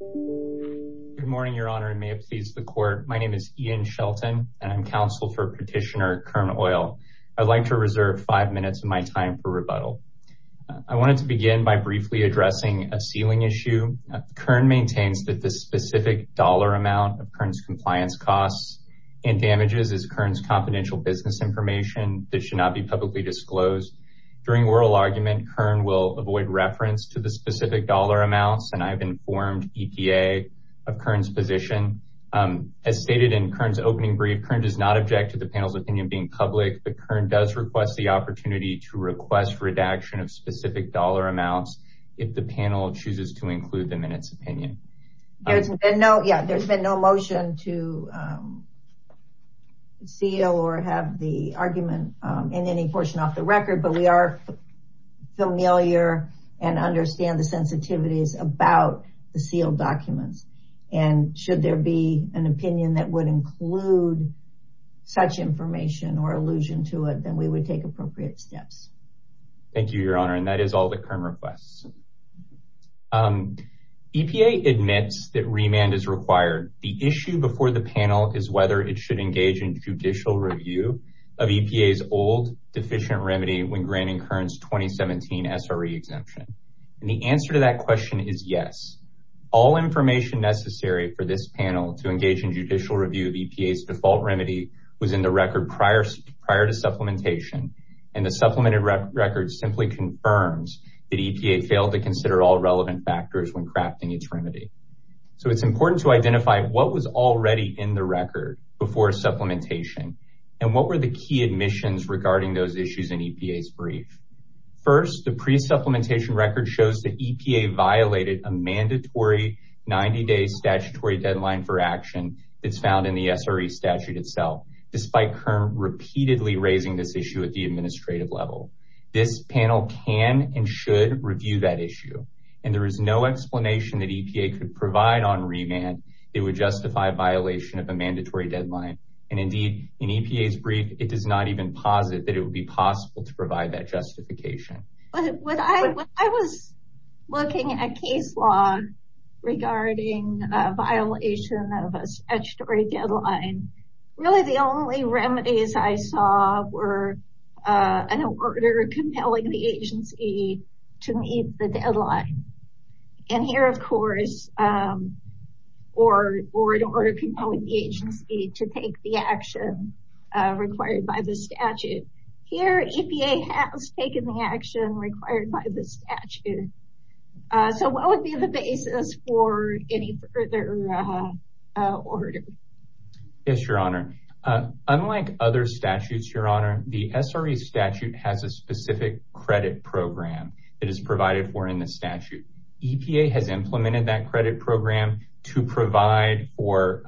Good morning, Your Honor, and may it please the Court. My name is Ian Shelton, and I'm counsel for Petitioner Kern Oil. I'd like to reserve five minutes of my time for rebuttal. I wanted to begin by briefly addressing a ceiling issue. Kern maintains that the specific dollar amount of Kern's compliance costs and damages is Kern's confidential business information that should not be publicly disclosed. During oral argument, Kern will avoid reference to the specific dollar amounts, and I've informed EPA of Kern's position. As stated in Kern's opening brief, Kern does not object to the panel's opinion being public, but Kern does request the opportunity to request redaction of specific dollar amounts if the panel chooses to include them in its opinion. There's been no motion to seal or have the argument in any portion off the record, but we are familiar and understand the sensitivities about the sealed documents, and should there be an opinion that would include such information or allusion to it, then we would take appropriate steps. Thank you, Your Honor, and that is all that Kern requests. EPA admits that remand is required. The issue before the panel is whether it should engage in judicial review of EPA's old deficient remedy when granting Kern's 2017 SRE exemption, and the answer to that question is yes. All information necessary for this panel to engage in judicial review of EPA's default remedy was in the record prior to supplementation, and the supplemented record simply confirms that EPA failed to consider all relevant factors when crafting its remedy. So it's important to identify what was already in the record before supplementation and what were the key admissions regarding those issues in EPA's brief. First, the pre-supplementation record shows that EPA violated a mandatory 90-day statutory deadline for action that's found in the SRE statute itself, despite Kern repeatedly raising this issue at the administrative level. This panel can and should review that issue, and there is no explanation that EPA could provide on remand that would justify a violation of a mandatory deadline, and indeed in EPA's brief it does not even posit that it would be possible to provide that justification. When I was looking at case law regarding a violation of a statutory deadline, really the only remedies I saw were an order compelling the agency to meet the deadline. And here of course, or an order compelling the agency to take the action required by the statute. Here EPA has taken the action required by the statute. So what would be the basis for any further order? Yes, Your Honor. Unlike other statutes, Your Honor, the SRE statute has a specific credit program that is provided for in the statute. EPA has implemented that credit program to provide for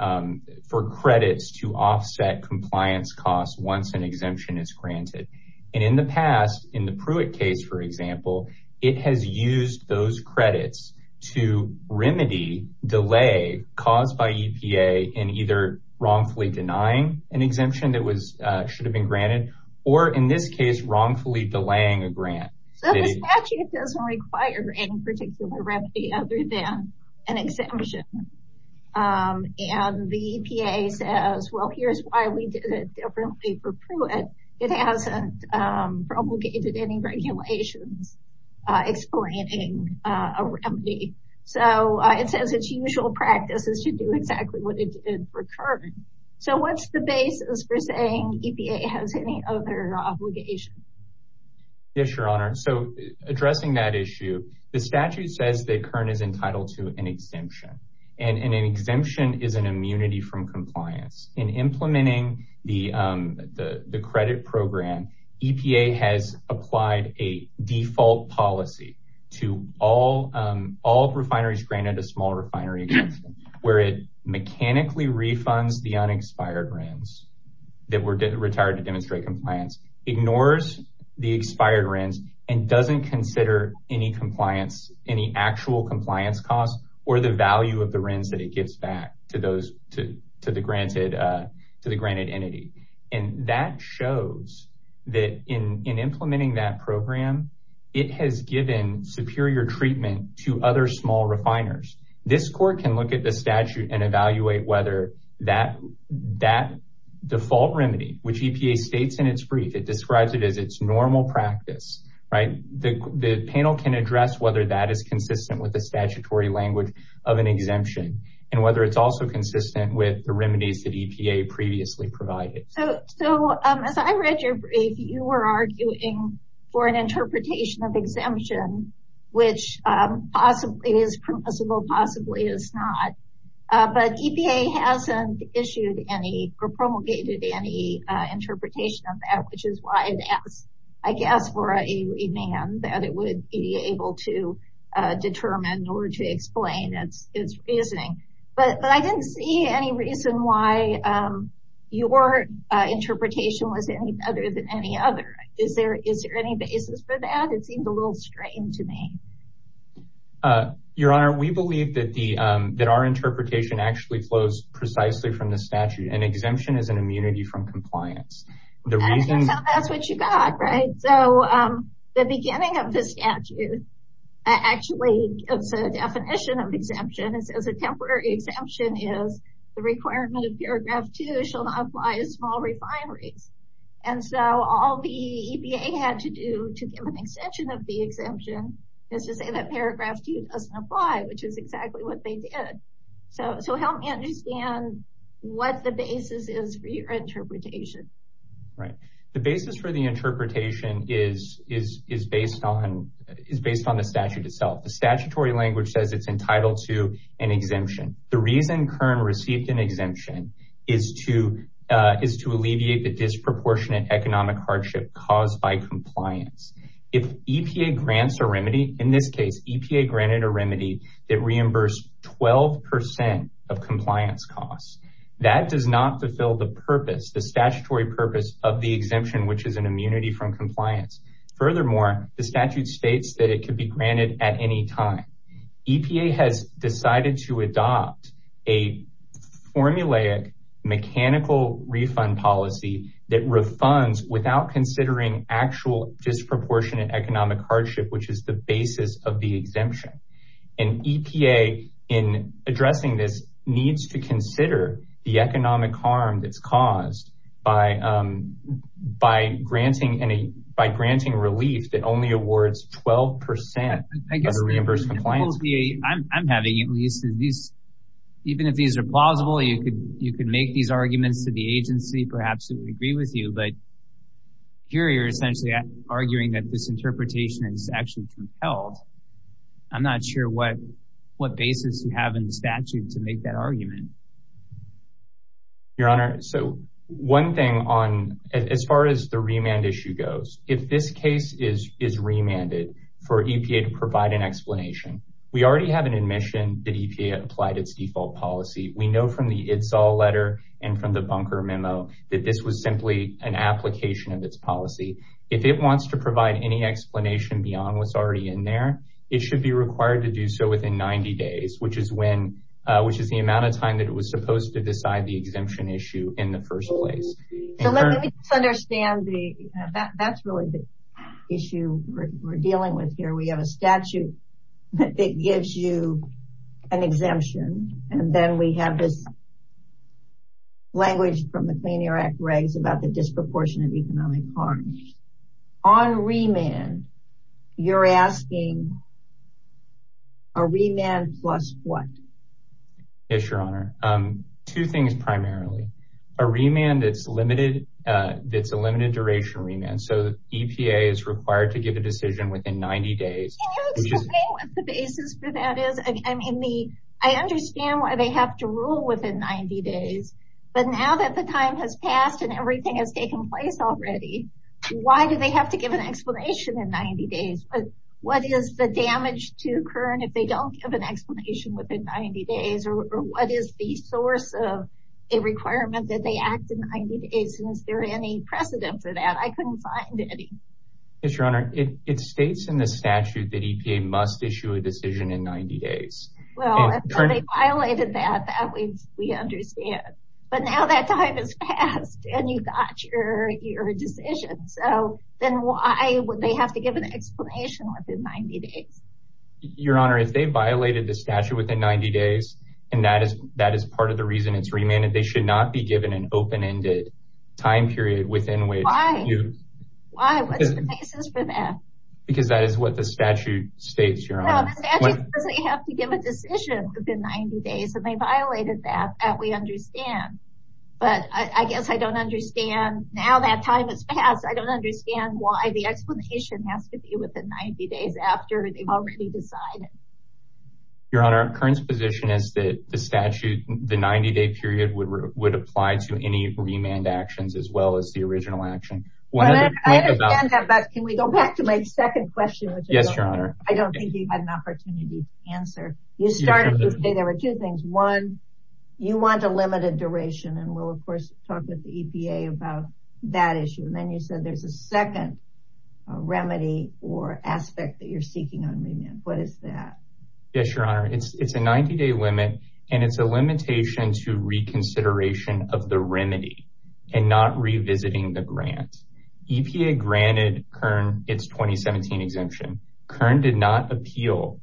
credits to offset compliance costs once an exemption is granted. And in the past, in the Pruitt case for example, it has used those credits to remedy delay caused by EPA in either wrongfully denying an exemption that should have been granted, or in this case wrongfully delaying a grant. So the statute doesn't require any particular remedy other than an exemption. And the EPA says, well, here's why we did it differently for Pruitt. It hasn't promulgated any regulations explaining a remedy. So it says its usual practice is to do exactly what it did for Kern. So what's the basis for saying EPA has any other obligations? Yes, Your Honor. So addressing that issue, the statute says that Kern is entitled to an exemption, and an exemption is an immunity from compliance. In implementing the credit program, EPA has applied a default policy to all refineries granted a small refinery exemption, where it mechanically refunds the unexpired grants that were retired to demonstrate compliance, ignores the expired rents, and doesn't consider any compliance, any actual compliance costs or the value of the rents that it gives back to the granted entity. And that shows that in implementing that program, it has given superior treatment to other small refiners. This court can look at the statute and evaluate whether that default remedy, which EPA states in its brief, it describes it as its normal practice. The panel can address whether that is consistent with the statutory language of an exemption and whether it's also consistent with the remedies that EPA previously provided. So as I read your brief, you were arguing for an interpretation of exemption, which possibly is permissible, possibly is not. But EPA hasn't issued any or promulgated any interpretation of that, which is why I guess for a man that it would be able to determine or to explain its reasoning. But I didn't see any reason why your interpretation was any other than any other. Is there any basis for that? It seemed a little strange to me. Your Honor, we believe that our interpretation actually flows precisely from the statute. An exemption is an immunity from compliance. I think that's what you got, right? So the beginning of the statute actually gives a definition of exemption. It says a temporary exemption is the requirement of paragraph two shall not apply to small refineries. And so all the EPA had to do to give an extension of the exemption is to say that paragraph two doesn't apply, which is exactly what they did. So help me understand what the basis is for your interpretation. Right. The basis for the interpretation is based on the statute itself. The statutory language says it's entitled to an exemption. The reason Kern received an exemption is to alleviate the disproportionate economic hardship caused by compliance. If EPA grants a remedy, in this case, EPA granted a remedy that reimbursed 12% of compliance costs. That does not fulfill the purpose, the statutory purpose of the exemption, which is an immunity from compliance. Furthermore, the statute states that it could be granted at any time. EPA has decided to adopt a formulaic mechanical refund policy that refunds without considering actual disproportionate economic hardship, which is the basis of the exemption. EPA in addressing this needs to consider the economic harm that's caused by granting relief that only awards 12% of the reimbursement. I'm having at least these, even if these are plausible, you could make these arguments to the agency. Perhaps they would agree with you. But here you're essentially arguing that this interpretation is actually compelled. I'm not sure what basis you have in the statute to make that argument. Your Honor, so one thing on as far as the remand issue goes, if this case is remanded for EPA to provide an explanation, we already have an admission that EPA applied its default policy. We know from the it's all letter and from the bunker memo that this was simply an application of its policy. If it wants to provide any explanation beyond what's already in there, it should be required to do so within 90 days, which is when which is the amount of time that it was supposed to decide the exemption issue in the first place. So let me understand the that's really the issue we're dealing with here. We have a statute that gives you an exemption. And then we have this language from the Clean Air Act regs about the disproportionate economic harm on remand. You're asking. A remand plus what? Yes, Your Honor. Two things, primarily a remand that's limited. That's a limited duration remand. So the EPA is required to give a decision within 90 days. The basis for that is, I mean, I understand why they have to rule within 90 days. But now that the time has passed and everything has taken place already, why do they have to give an explanation in 90 days? But what is the damage to current if they don't have an explanation within 90 days? Or what is the source of a requirement that they act in 90 days? Is there any precedent for that? I couldn't find any. Yes, Your Honor. It states in the statute that EPA must issue a decision in 90 days. Well, they violated that. We understand. But now that time has passed and you got your decision. So then why would they have to give an explanation within 90 days? Your Honor, if they violated the statute within 90 days and that is that is part of the reason it's remanded. They should not be given an open-ended time period within which. Why? What's the basis for that? Because that is what the statute states, Your Honor. No, the statute doesn't have to give a decision within 90 days. And they violated that. We understand. But I guess I don't understand. Now that time has passed. I don't understand why the explanation has to be within 90 days after they've already decided. Your Honor, Kern's position is that the statute, the 90-day period would apply to any remand actions as well as the original action. Can we go back to my second question? Yes, Your Honor. I don't think you had an opportunity to answer. You started to say there were two things. One, you want a limited duration. And we'll, of course, talk with the EPA about that issue. And then you said there's a second remedy or aspect that you're seeking on remand. What is that? Yes, Your Honor. It's a 90-day limit, and it's a limitation to reconsideration of the remedy and not revisiting the grant. EPA granted Kern its 2017 exemption. Kern did not appeal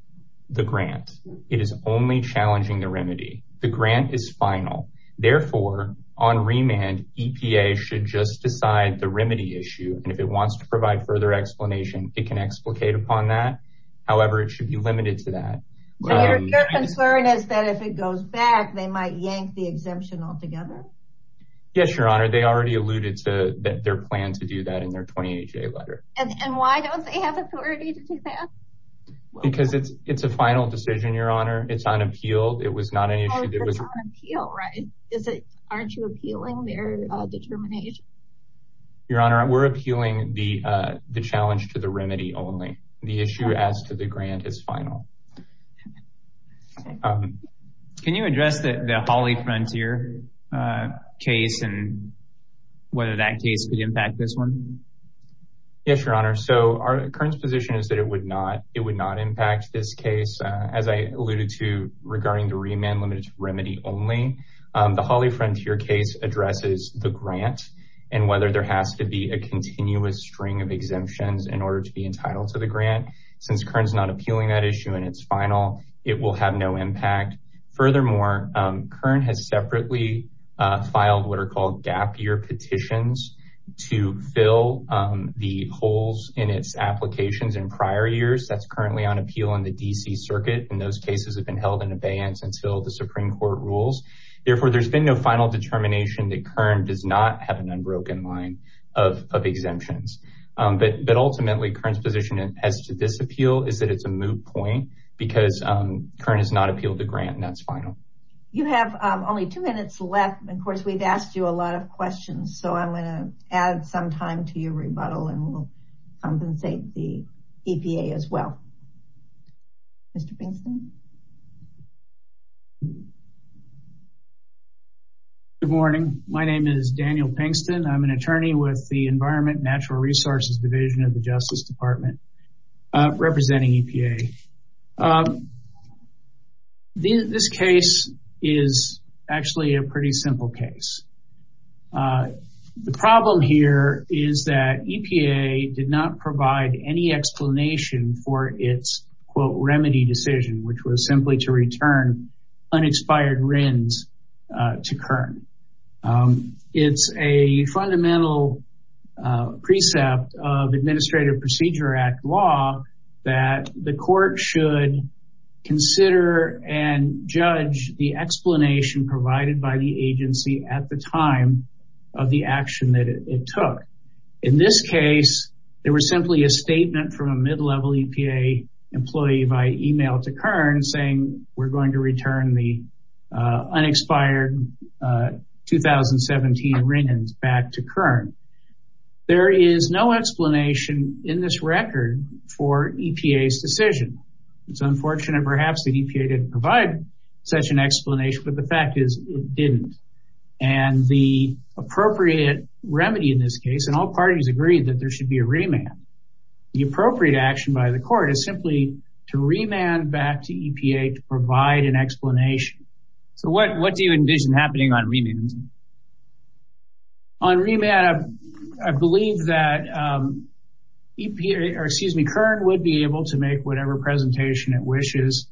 the grant. It is only challenging the remedy. The grant is final. Therefore, on remand, EPA should just decide the remedy issue. And if it wants to provide further explanation, it can explicate upon that. However, it should be limited to that. Your concern is that if it goes back, they might yank the exemption altogether? Yes, Your Honor. They already alluded to their plan to do that in their 28-day letter. And why don't they have authority to do that? Because it's a final decision, Your Honor. It's unappealed. It was not an issue that was— Oh, it's unappealed, right? Aren't you appealing their determination? Your Honor, we're appealing the challenge to the remedy only. The issue as to the grant is final. Can you address the Hawley Frontier case and whether that case could impact this one? Yes, Your Honor. So Kern's position is that it would not impact this case. As I alluded to regarding the remand limited to remedy only, the Hawley Frontier case addresses the grant and whether there has to be a continuous string of exemptions in order to be entitled to the grant. Since Kern's not appealing that issue and it's final, it will have no impact. Furthermore, Kern has separately filed what are called gap year petitions to fill the holes in its applications in prior years. That's currently on appeal in the D.C. Circuit. And those cases have been held in abeyance until the Supreme Court rules. Therefore, there's been no final determination that Kern does not have an unbroken line of exemptions. But ultimately, Kern's position as to this appeal is that it's a moot point because Kern has not appealed the grant and that's final. You have only two minutes left. Of course, we've asked you a lot of questions, so I'm going to add some time to your rebuttal and we'll compensate the EPA as well. Mr. Pinkston? Good morning. My name is Daniel Pinkston. I'm an attorney with the Environment and Natural Resources Division of the Justice Department representing EPA. This case is actually a pretty simple case. The problem here is that EPA did not provide any explanation for its, quote, remedy decision, which was simply to return unexpired RINs to Kern. It's a fundamental precept of Administrative Procedure Act law that the court should consider and judge the explanation provided by the agency at the time of the action that it took. In this case, there was simply a statement from a mid-level EPA employee via email to Kern saying, We're going to return the unexpired 2017 RINs back to Kern. There is no explanation in this record for EPA's decision. It's unfortunate, perhaps, that EPA didn't provide such an explanation, but the fact is it didn't. The appropriate remedy in this case, and all parties agreed that there should be a remand, the appropriate action by the court is simply to remand back to EPA to provide an explanation. What do you envision happening on remand? On remand, I believe that Kern would be able to make whatever presentation it wishes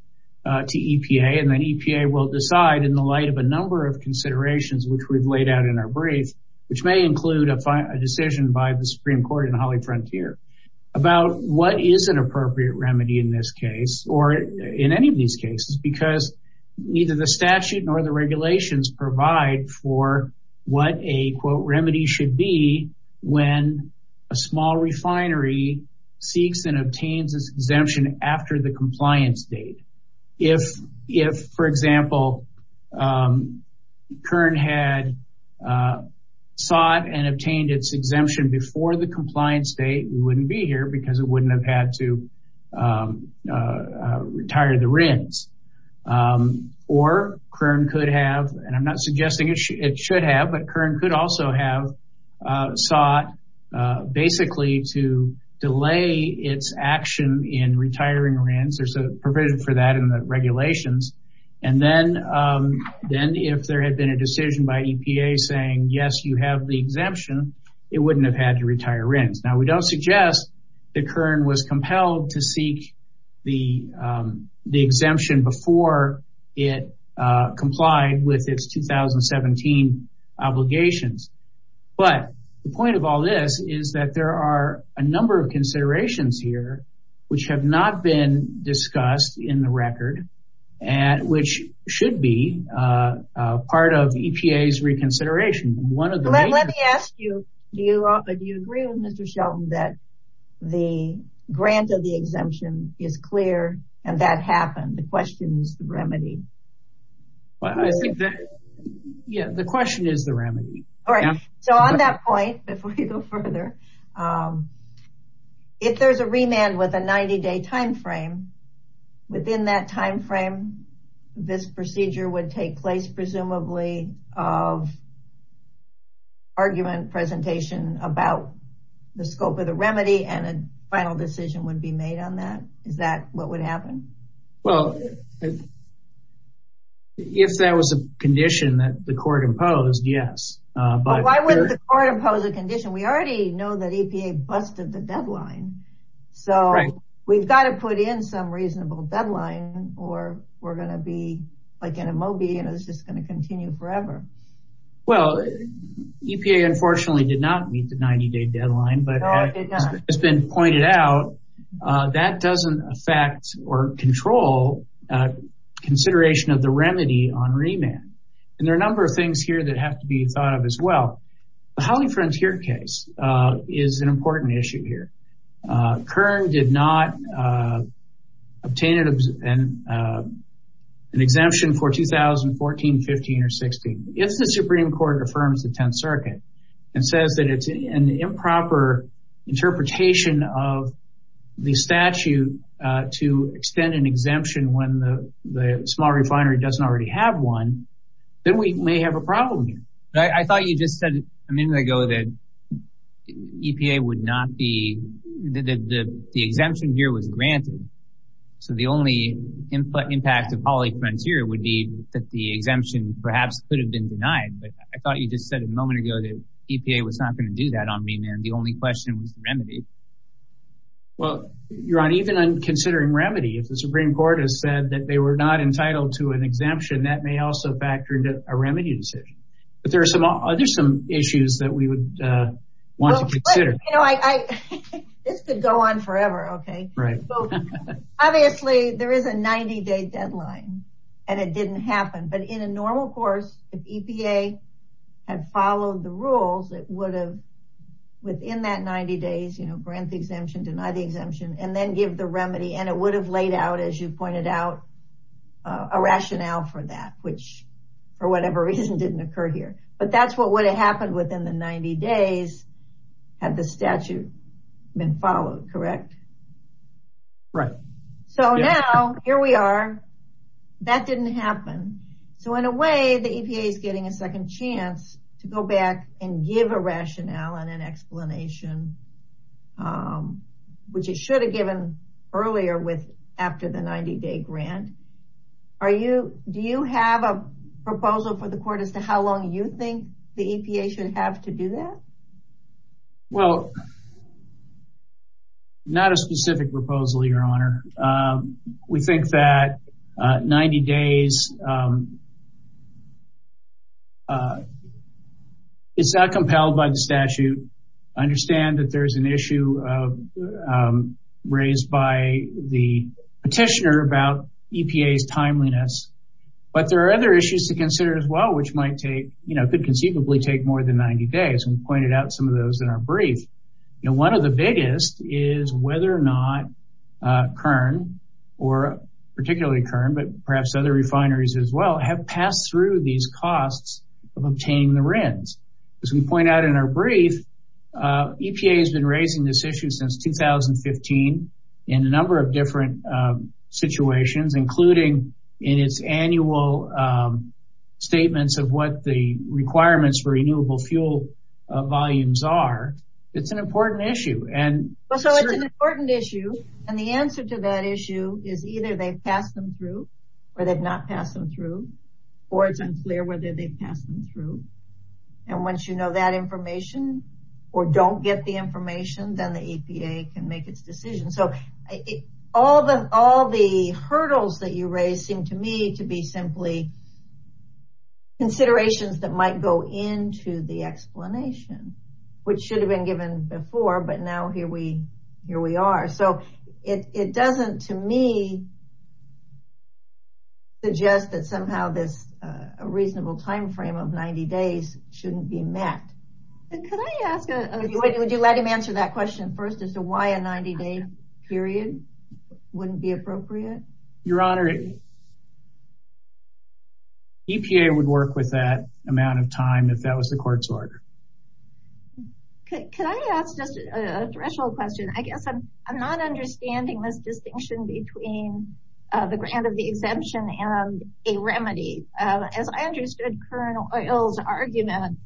to EPA, and then EPA will decide in the light of a number of considerations which we've laid out in our brief, which may include a decision by the Supreme Court and Holly Frontier, about what is an appropriate remedy in this case, or in any of these cases, because neither the statute nor the regulations provide for what a, quote, remedy should be when a small refinery seeks and obtains its exemption after the compliance date. If, for example, Kern had sought and obtained its exemption before the compliance date, we wouldn't be here because it wouldn't have had to retire the RINs. Or Kern could have, and I'm not suggesting it should have, but Kern could also have sought basically to delay its action in retiring RINs. There's a provision for that in the regulations. And then if there had been a decision by EPA saying, yes, you have the exemption, it wouldn't have had to retire RINs. Now, we don't suggest that Kern was compelled to seek the exemption before it complied with its 2017 obligations. But the point of all this is that there are a number of considerations here which have not been discussed in the record and which should be part of EPA's reconsideration. Let me ask you, do you agree with Mr. Shelton that the grant of the exemption is clear and that happened? The question is the remedy. I think that, yeah, the question is the remedy. All right. So on that point, before we go further, if there's a remand with a 90-day time frame, within that time frame, this procedure would take place presumably of argument presentation about the scope of the remedy and a final decision would be made on that. Is that what would happen? Well, if that was a condition that the court imposed, yes. Why wouldn't the court impose a condition? We already know that EPA busted the deadline. So we've got to put in some reasonable deadline or we're going to be like in a Moby and it's just going to continue forever. Well, EPA unfortunately did not meet the 90-day deadline. No, it did not. As has been pointed out, that doesn't affect or control consideration of the remedy on remand. And there are a number of things here that have to be thought of as well. The Holly Frontier case is an important issue here. Kern did not obtain an exemption for 2014, 15, or 16. If the Supreme Court affirms the Tenth Circuit and says that it's an improper interpretation of the statute to extend an exemption when the small refinery doesn't already have one, then we may have a problem here. I thought you just said a minute ago that the exemption here was granted. So the only impact of Holly Frontier would be that the exemption perhaps could have been denied. But I thought you just said a moment ago that EPA was not going to do that on remand. The only question was the remedy. Well, even on considering remedy, if the Supreme Court has said that they were not entitled to an exemption, that may also factor into a remedy decision. But there are some issues that we would want to consider. This could go on forever. Obviously, there is a 90-day deadline, and it didn't happen. But in a normal course, if EPA had followed the rules, it would have, within that 90 days, grant the exemption, deny the exemption, and then give the remedy. And it would have laid out, as you pointed out, a rationale for that, which, for whatever reason, didn't occur here. But that's what would have happened within the 90 days had the statute been followed, correct? Right. So now, here we are. That didn't happen. So in a way, the EPA is getting a second chance to go back and give a rationale and an explanation, which it should have given earlier after the 90-day grant. Do you have a proposal for the court as to how long you think the EPA should have to do that? Well, not a specific proposal, Your Honor. We think that 90 days is not compelled by the statute. I understand that there is an issue raised by the petitioner about EPA's timeliness. But there are other issues to consider as well, which could conceivably take more than 90 days, and we pointed out some of those in our brief. One of the biggest is whether or not Kern, or particularly Kern, but perhaps other refineries as well, have passed through these costs of obtaining the RINs. As we point out in our brief, EPA has been raising this issue since 2015 in a number of different situations, including in its annual statements of what the requirements for renewable fuel volumes are. It's an important issue. So it's an important issue, and the answer to that issue is either they've passed them through or they've not passed them through, or it's unclear whether they've passed them through. And once you know that information, or don't get the information, then the EPA can make its decision. So all the hurdles that you raised seem to me to be simply considerations that might go into the explanation, which should have been given before, but now here we are. So it doesn't, to me, suggest that somehow this reasonable timeframe of 90 days shouldn't be met. Could I ask a question? Would you let him answer that question first as to why a 90-day period wouldn't be appropriate? Your Honor, EPA would work with that amount of time if that was the court's order. Could I ask just a threshold question? I guess I'm not understanding this distinction between the grant of the exemption and a remedy. As I understood Colonel Oyl's argument,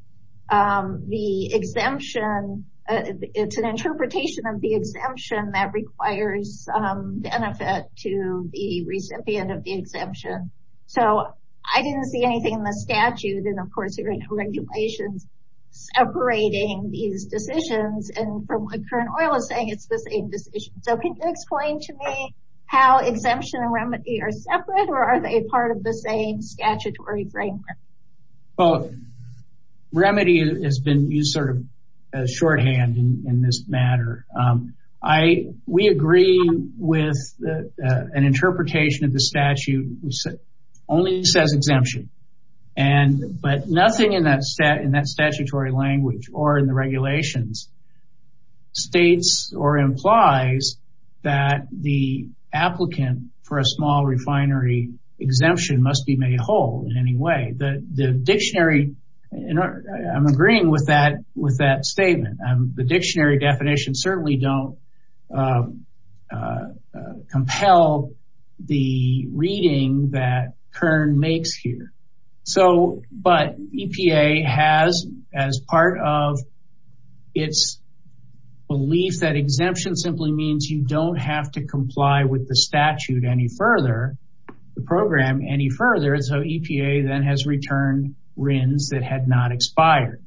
the exemption, it's an interpretation of the exemption that requires benefit to the recipient of the exemption. So I didn't see anything in the statute, and of course there are no regulations separating these decisions, and from what Colonel Oyl is saying, it's the same decision. So can you explain to me how exemption and remedy are separate, or are they part of the same statutory framework? Well, remedy has been used sort of as shorthand in this matter. We agree with an interpretation of the statute which only says exemption, but nothing in that statutory language or in the regulations states or implies that the applicant for a small refinery exemption must be made whole in any way. The dictionary, I'm agreeing with that statement. The dictionary definitions certainly don't compel the reading that Kern makes here. But EPA has, as part of its belief that exemption simply means you don't have to comply with the statute any further, the program any further, so EPA then has returned RINs that had not expired.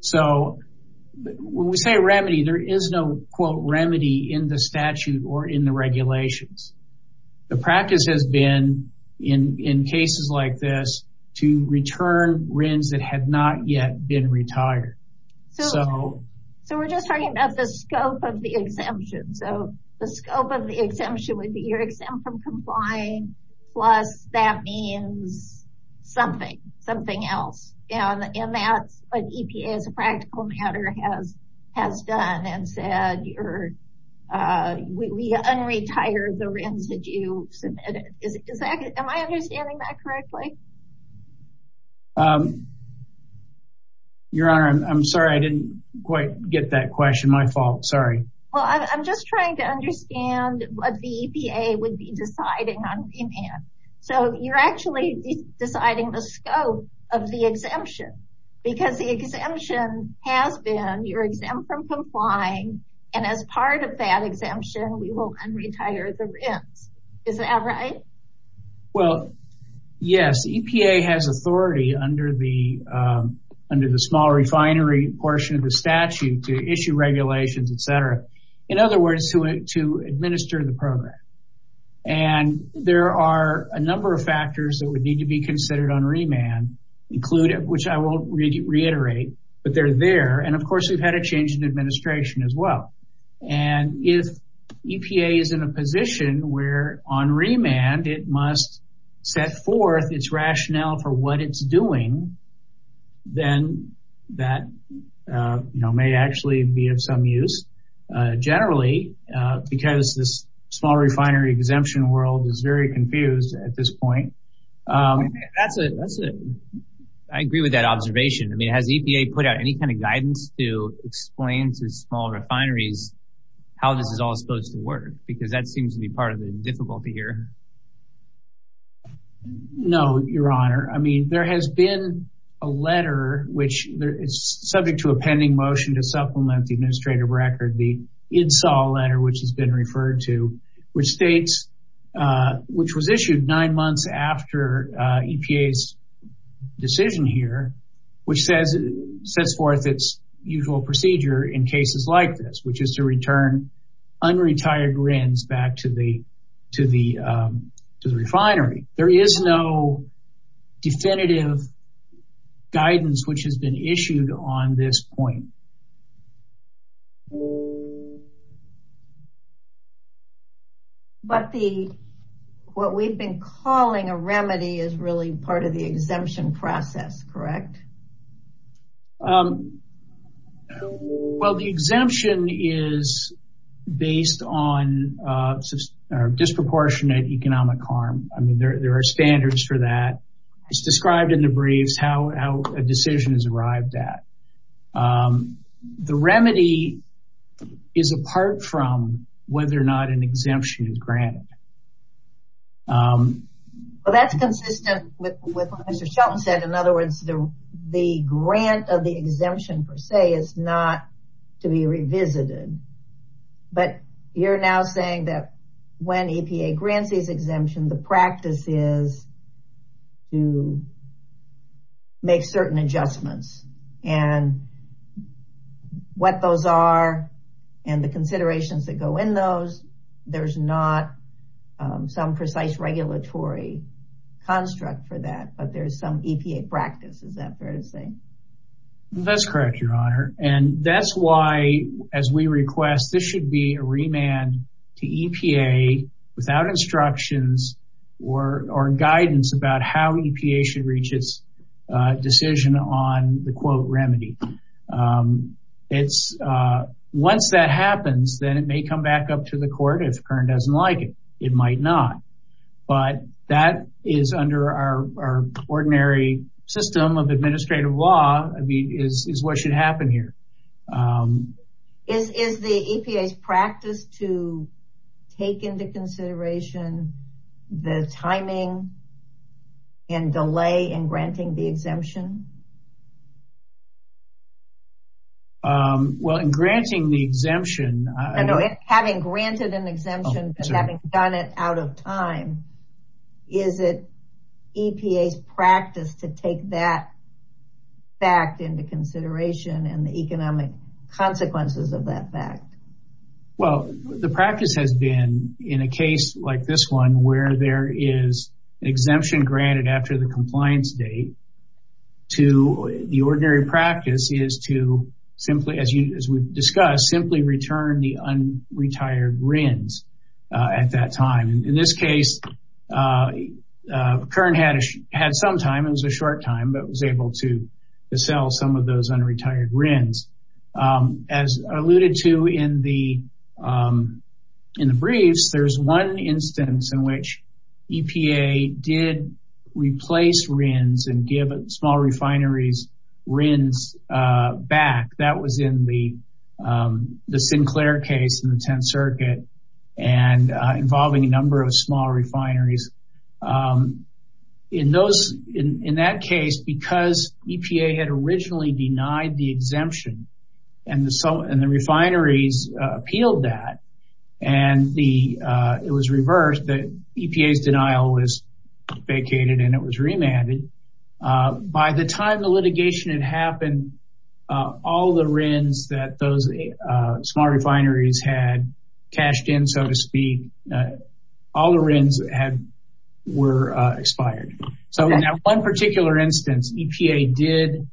So when we say remedy, there is no quote remedy in the statute or in the regulations. The practice has been in cases like this to return RINs that had not yet been retired. So we're just talking about the scope of the exemption. So the scope of the exemption would be your exempt from complying plus that means something, something else. And that's what EPA as a practical matter has done and said we un-retire the RINs that you submitted. Am I understanding that correctly? Your Honor, I'm sorry. I didn't quite get that question. My fault. Sorry. Well, I'm just trying to understand what the EPA would be deciding on demand. So you're actually deciding the scope of the exemption because the exemption has been your exempt from complying and as part of that exemption we will un-retire the RINs. Is that right? Well, yes. EPA has authority under the small refinery portion of the statute to issue regulations, etc. In other words, to administer the program. And there are a number of factors that would need to be considered on remand, which I won't reiterate, but they're there. And of course we've had a change in administration as well. And if EPA is in a position where on remand it must set forth its rationale for what it's doing, then that may actually be of some use. Generally, because this small refinery exemption world is very confused at this point. I agree with that observation. I mean, has EPA put out any kind of guidance to explain to small refineries how this is all supposed to work? Because that seems to be part of the difficulty here. No, Your Honor. I mean, there has been a letter, which is subject to a pending motion to supplement the administrative record, the Insol letter, which has been referred to, which states, which was issued nine months after EPA's decision here, which says it sets forth its usual procedure in cases like this, which is to return unretired RINs back to the refinery. There is no definitive guidance which has been issued on this point. But what we've been calling a remedy is really part of the exemption process, correct? Well, the exemption is based on disproportionate economic harm. I mean, there are standards for that. It's described in the briefs how a decision is arrived at. The remedy is apart from whether or not an exemption is granted. Well, that's consistent with what Mr. Shelton said. In other words, the grant of the exemption, per se, is not to be revisited. But you're now saying that when EPA grants these exemptions, the practice is to make certain adjustments. And what those are and the considerations that go in those, there's not some precise regulatory construct for that, but there's some EPA practice. Is that fair to say? That's correct, Your Honor. And that's why, as we request, this should be a remand to EPA without instructions or guidance about how EPA should reach its decision on the quote remedy. Once that happens, then it may come back up to the court if Kern doesn't like it. It might not. But that is under our ordinary system of administrative law, is what should happen here. Is the EPA's practice to take into consideration the timing and delay in granting the exemption? Well, in granting the exemption... Having granted an exemption, but having done it out of time, is it EPA's practice to take that fact into consideration and the economic consequences of that fact? Well, the practice has been, in a case like this one, where there is an exemption granted after the compliance date, the ordinary practice is to, as we've discussed, simply return the unretired RINs at that time. In this case, Kern had some time, it was a short time, but was able to sell some of those unretired RINs. As alluded to in the briefs, there's one instance in which EPA did replace RINs and give small refineries RINs back. That was in the Sinclair case in the Tenth Circuit and involving a number of small refineries. In that case, because EPA had originally denied the exemption and the refineries appealed that, and it was reversed, EPA's denial was vacated and it was remanded. By the time the litigation had happened, all the RINs that those small refineries had cashed in, so to speak, all the RINs were expired. In that one particular instance, EPA did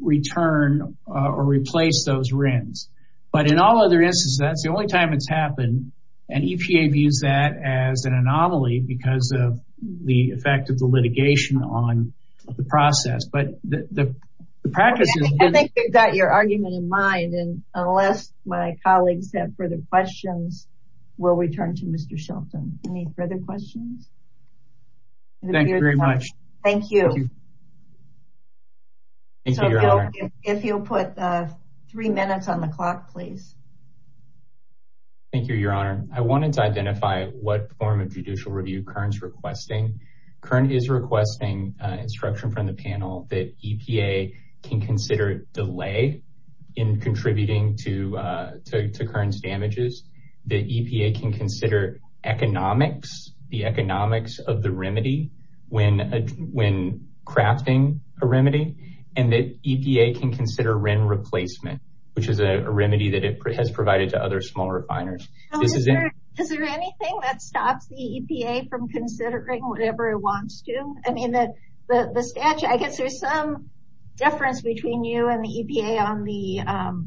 return or replace those RINs. But in all other instances, that's the only time it's happened, and EPA views that as an anomaly because of the effect of the litigation on the process. I think you've got your argument in mind, and unless my colleagues have further questions, we'll return to Mr. Shelton. Any further questions? Thank you very much. Thank you. Thank you, Your Honor. If you'll put three minutes on the clock, please. Thank you, Your Honor. I wanted to identify what form of judicial review Kern's requesting. Kern is requesting instruction from the panel that EPA can consider delay in contributing to Kern's damages, that EPA can consider economics, the economics of the remedy when crafting a remedy, and that EPA can consider RIN replacement, which is a remedy that it has provided to other small refiners. Is there anything that stops the EPA from considering whatever it wants to? I mean, the statute, I guess there's some difference between you and the EPA on the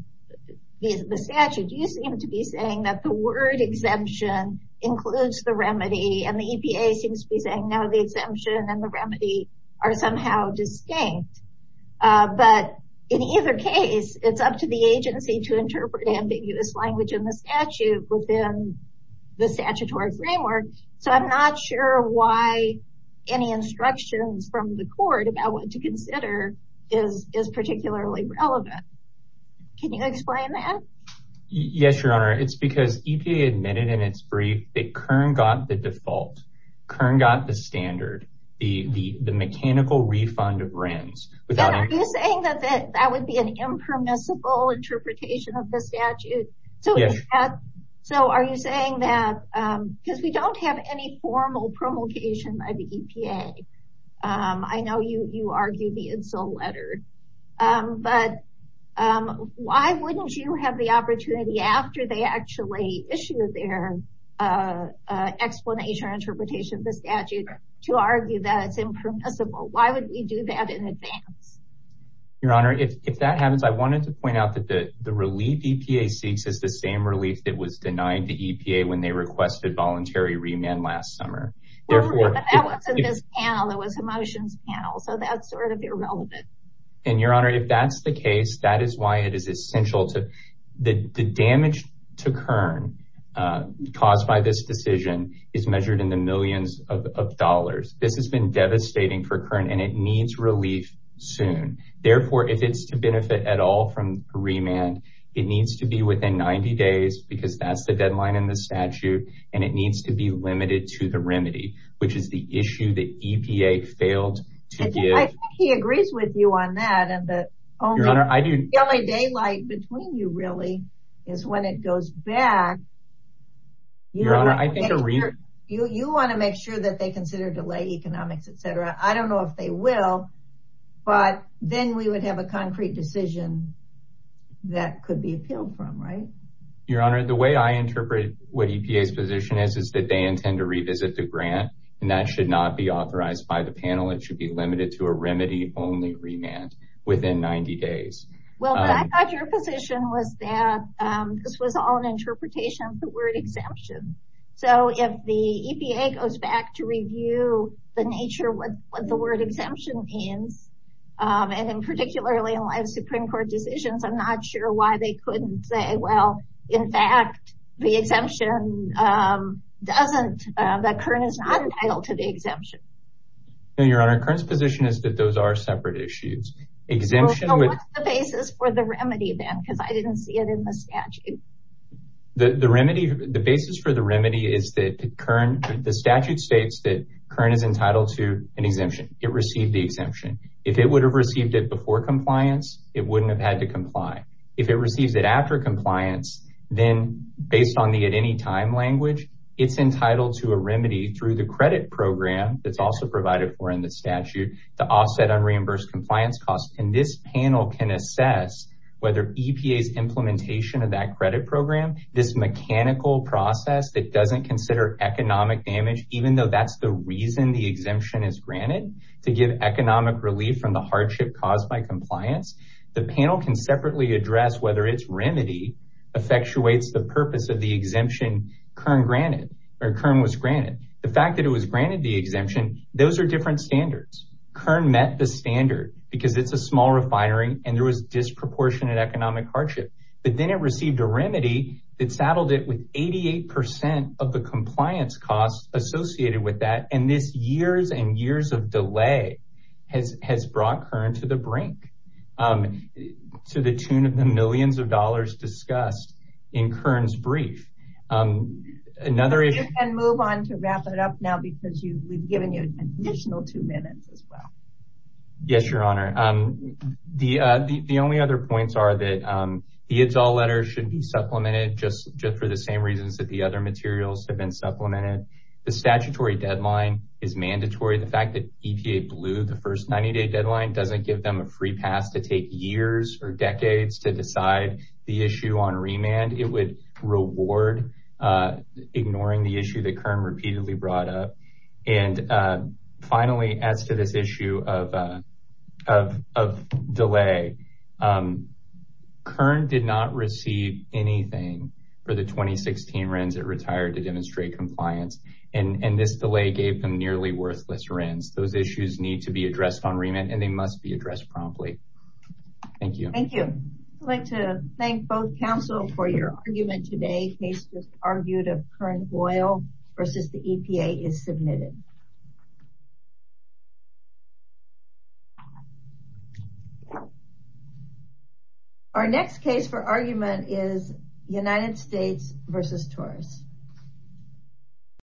statute. You seem to be saying that the word exemption includes the remedy, and the EPA seems to be saying, no, the exemption and the remedy are somehow distinct. But in either case, it's up to the agency to interpret ambiguous language in the statute within the statutory framework. So I'm not sure why any instructions from the court about what to consider is particularly relevant. Can you explain that? Yes, Your Honor. It's because EPA admitted in its brief that Kern got the default. Kern got the standard, the mechanical refund of RINs. Are you saying that that would be an impermissible interpretation of the statute? Yes. So are you saying that because we don't have any formal promulgation by the EPA? I know you argue the insult letter, but why wouldn't you have the opportunity after they actually issue their explanation or interpretation of the statute to argue that it's impermissible? Why would we do that in advance? Your Honor, if that happens, I wanted to point out that the relief EPA seeks is the same relief that was denied to EPA when they requested voluntary remand last summer. Well, but that wasn't this panel. That was Emotions panel. So that's sort of irrelevant. And Your Honor, if that's the case, that is why it is essential to the damage to Kern caused by this decision is measured in the millions of dollars. This has been devastating for Kern, and it needs relief soon. Therefore, if it's to benefit at all from remand, it needs to be within 90 days because that's the deadline in the statute, and it needs to be limited to the remedy, which is the issue that EPA failed to give. I think he agrees with you on that. Your Honor, I do. The only daylight between you really is when it goes back. Your Honor, I think you want to make sure that they consider delay economics, etc. I don't know if they will, but then we would have a concrete decision that could be appealed from, right? Your Honor, the way I interpret what EPA's position is, is that they intend to revisit the grant, and that should not be authorized by the panel. It should be limited to a remedy-only remand within 90 days. Well, I thought your position was that this was all an interpretation of the word exemption. So if the EPA goes back to review the nature of what the word exemption means, and particularly in Supreme Court decisions, I'm not sure why they couldn't say, well, in fact, the exemption doesn't, that Kern is not entitled to the exemption. No, Your Honor. Kern's position is that those are separate issues. So what's the basis for the remedy then? Because I didn't see it in the statute. The basis for the remedy is that the statute states that Kern is entitled to an exemption. It received the exemption. If it would have received it before compliance, it wouldn't have had to comply. If it receives it after compliance, then based on the at-any-time language, it's entitled to a remedy through the credit program that's also provided for in the statute to offset unreimbursed compliance costs. And this panel can assess whether EPA's implementation of that credit program, this mechanical process that doesn't consider economic damage, even though that's the reason the exemption is granted, to give economic relief from the hardship caused by compliance. The panel can separately address whether its remedy effectuates the purpose of the exemption Kern was granted. The fact that it was granted the exemption, those are different standards. Kern met the standard because it's a small refinery and there was disproportionate economic hardship. But then it received a remedy that saddled it with 88% of the compliance costs associated with that. And this years and years of delay has brought Kern to the brink, to the tune of the millions of dollars discussed in Kern's brief. You can move on to wrap it up now because we've given you an additional two minutes as well. Yes, Your Honor. The only other points are that the IDZOL letters should be supplemented just for the same reasons that the other materials have been supplemented. The statutory deadline is mandatory. The fact that EPA blew the first 90-day deadline doesn't give them a free pass to take years or decades to decide the issue on remand. It would reward ignoring the issue that Kern repeatedly brought up. Finally, as to this issue of delay, Kern did not receive anything for the 2016 RINs it retired to demonstrate compliance. And this delay gave them nearly worthless RINs. Those issues need to be addressed on remand and they must be addressed promptly. Thank you. Thank you. I'd like to thank both counsel for your argument today. The case was argued of Kern Oil versus the EPA is submitted. Our next case for argument is United States versus Taurus.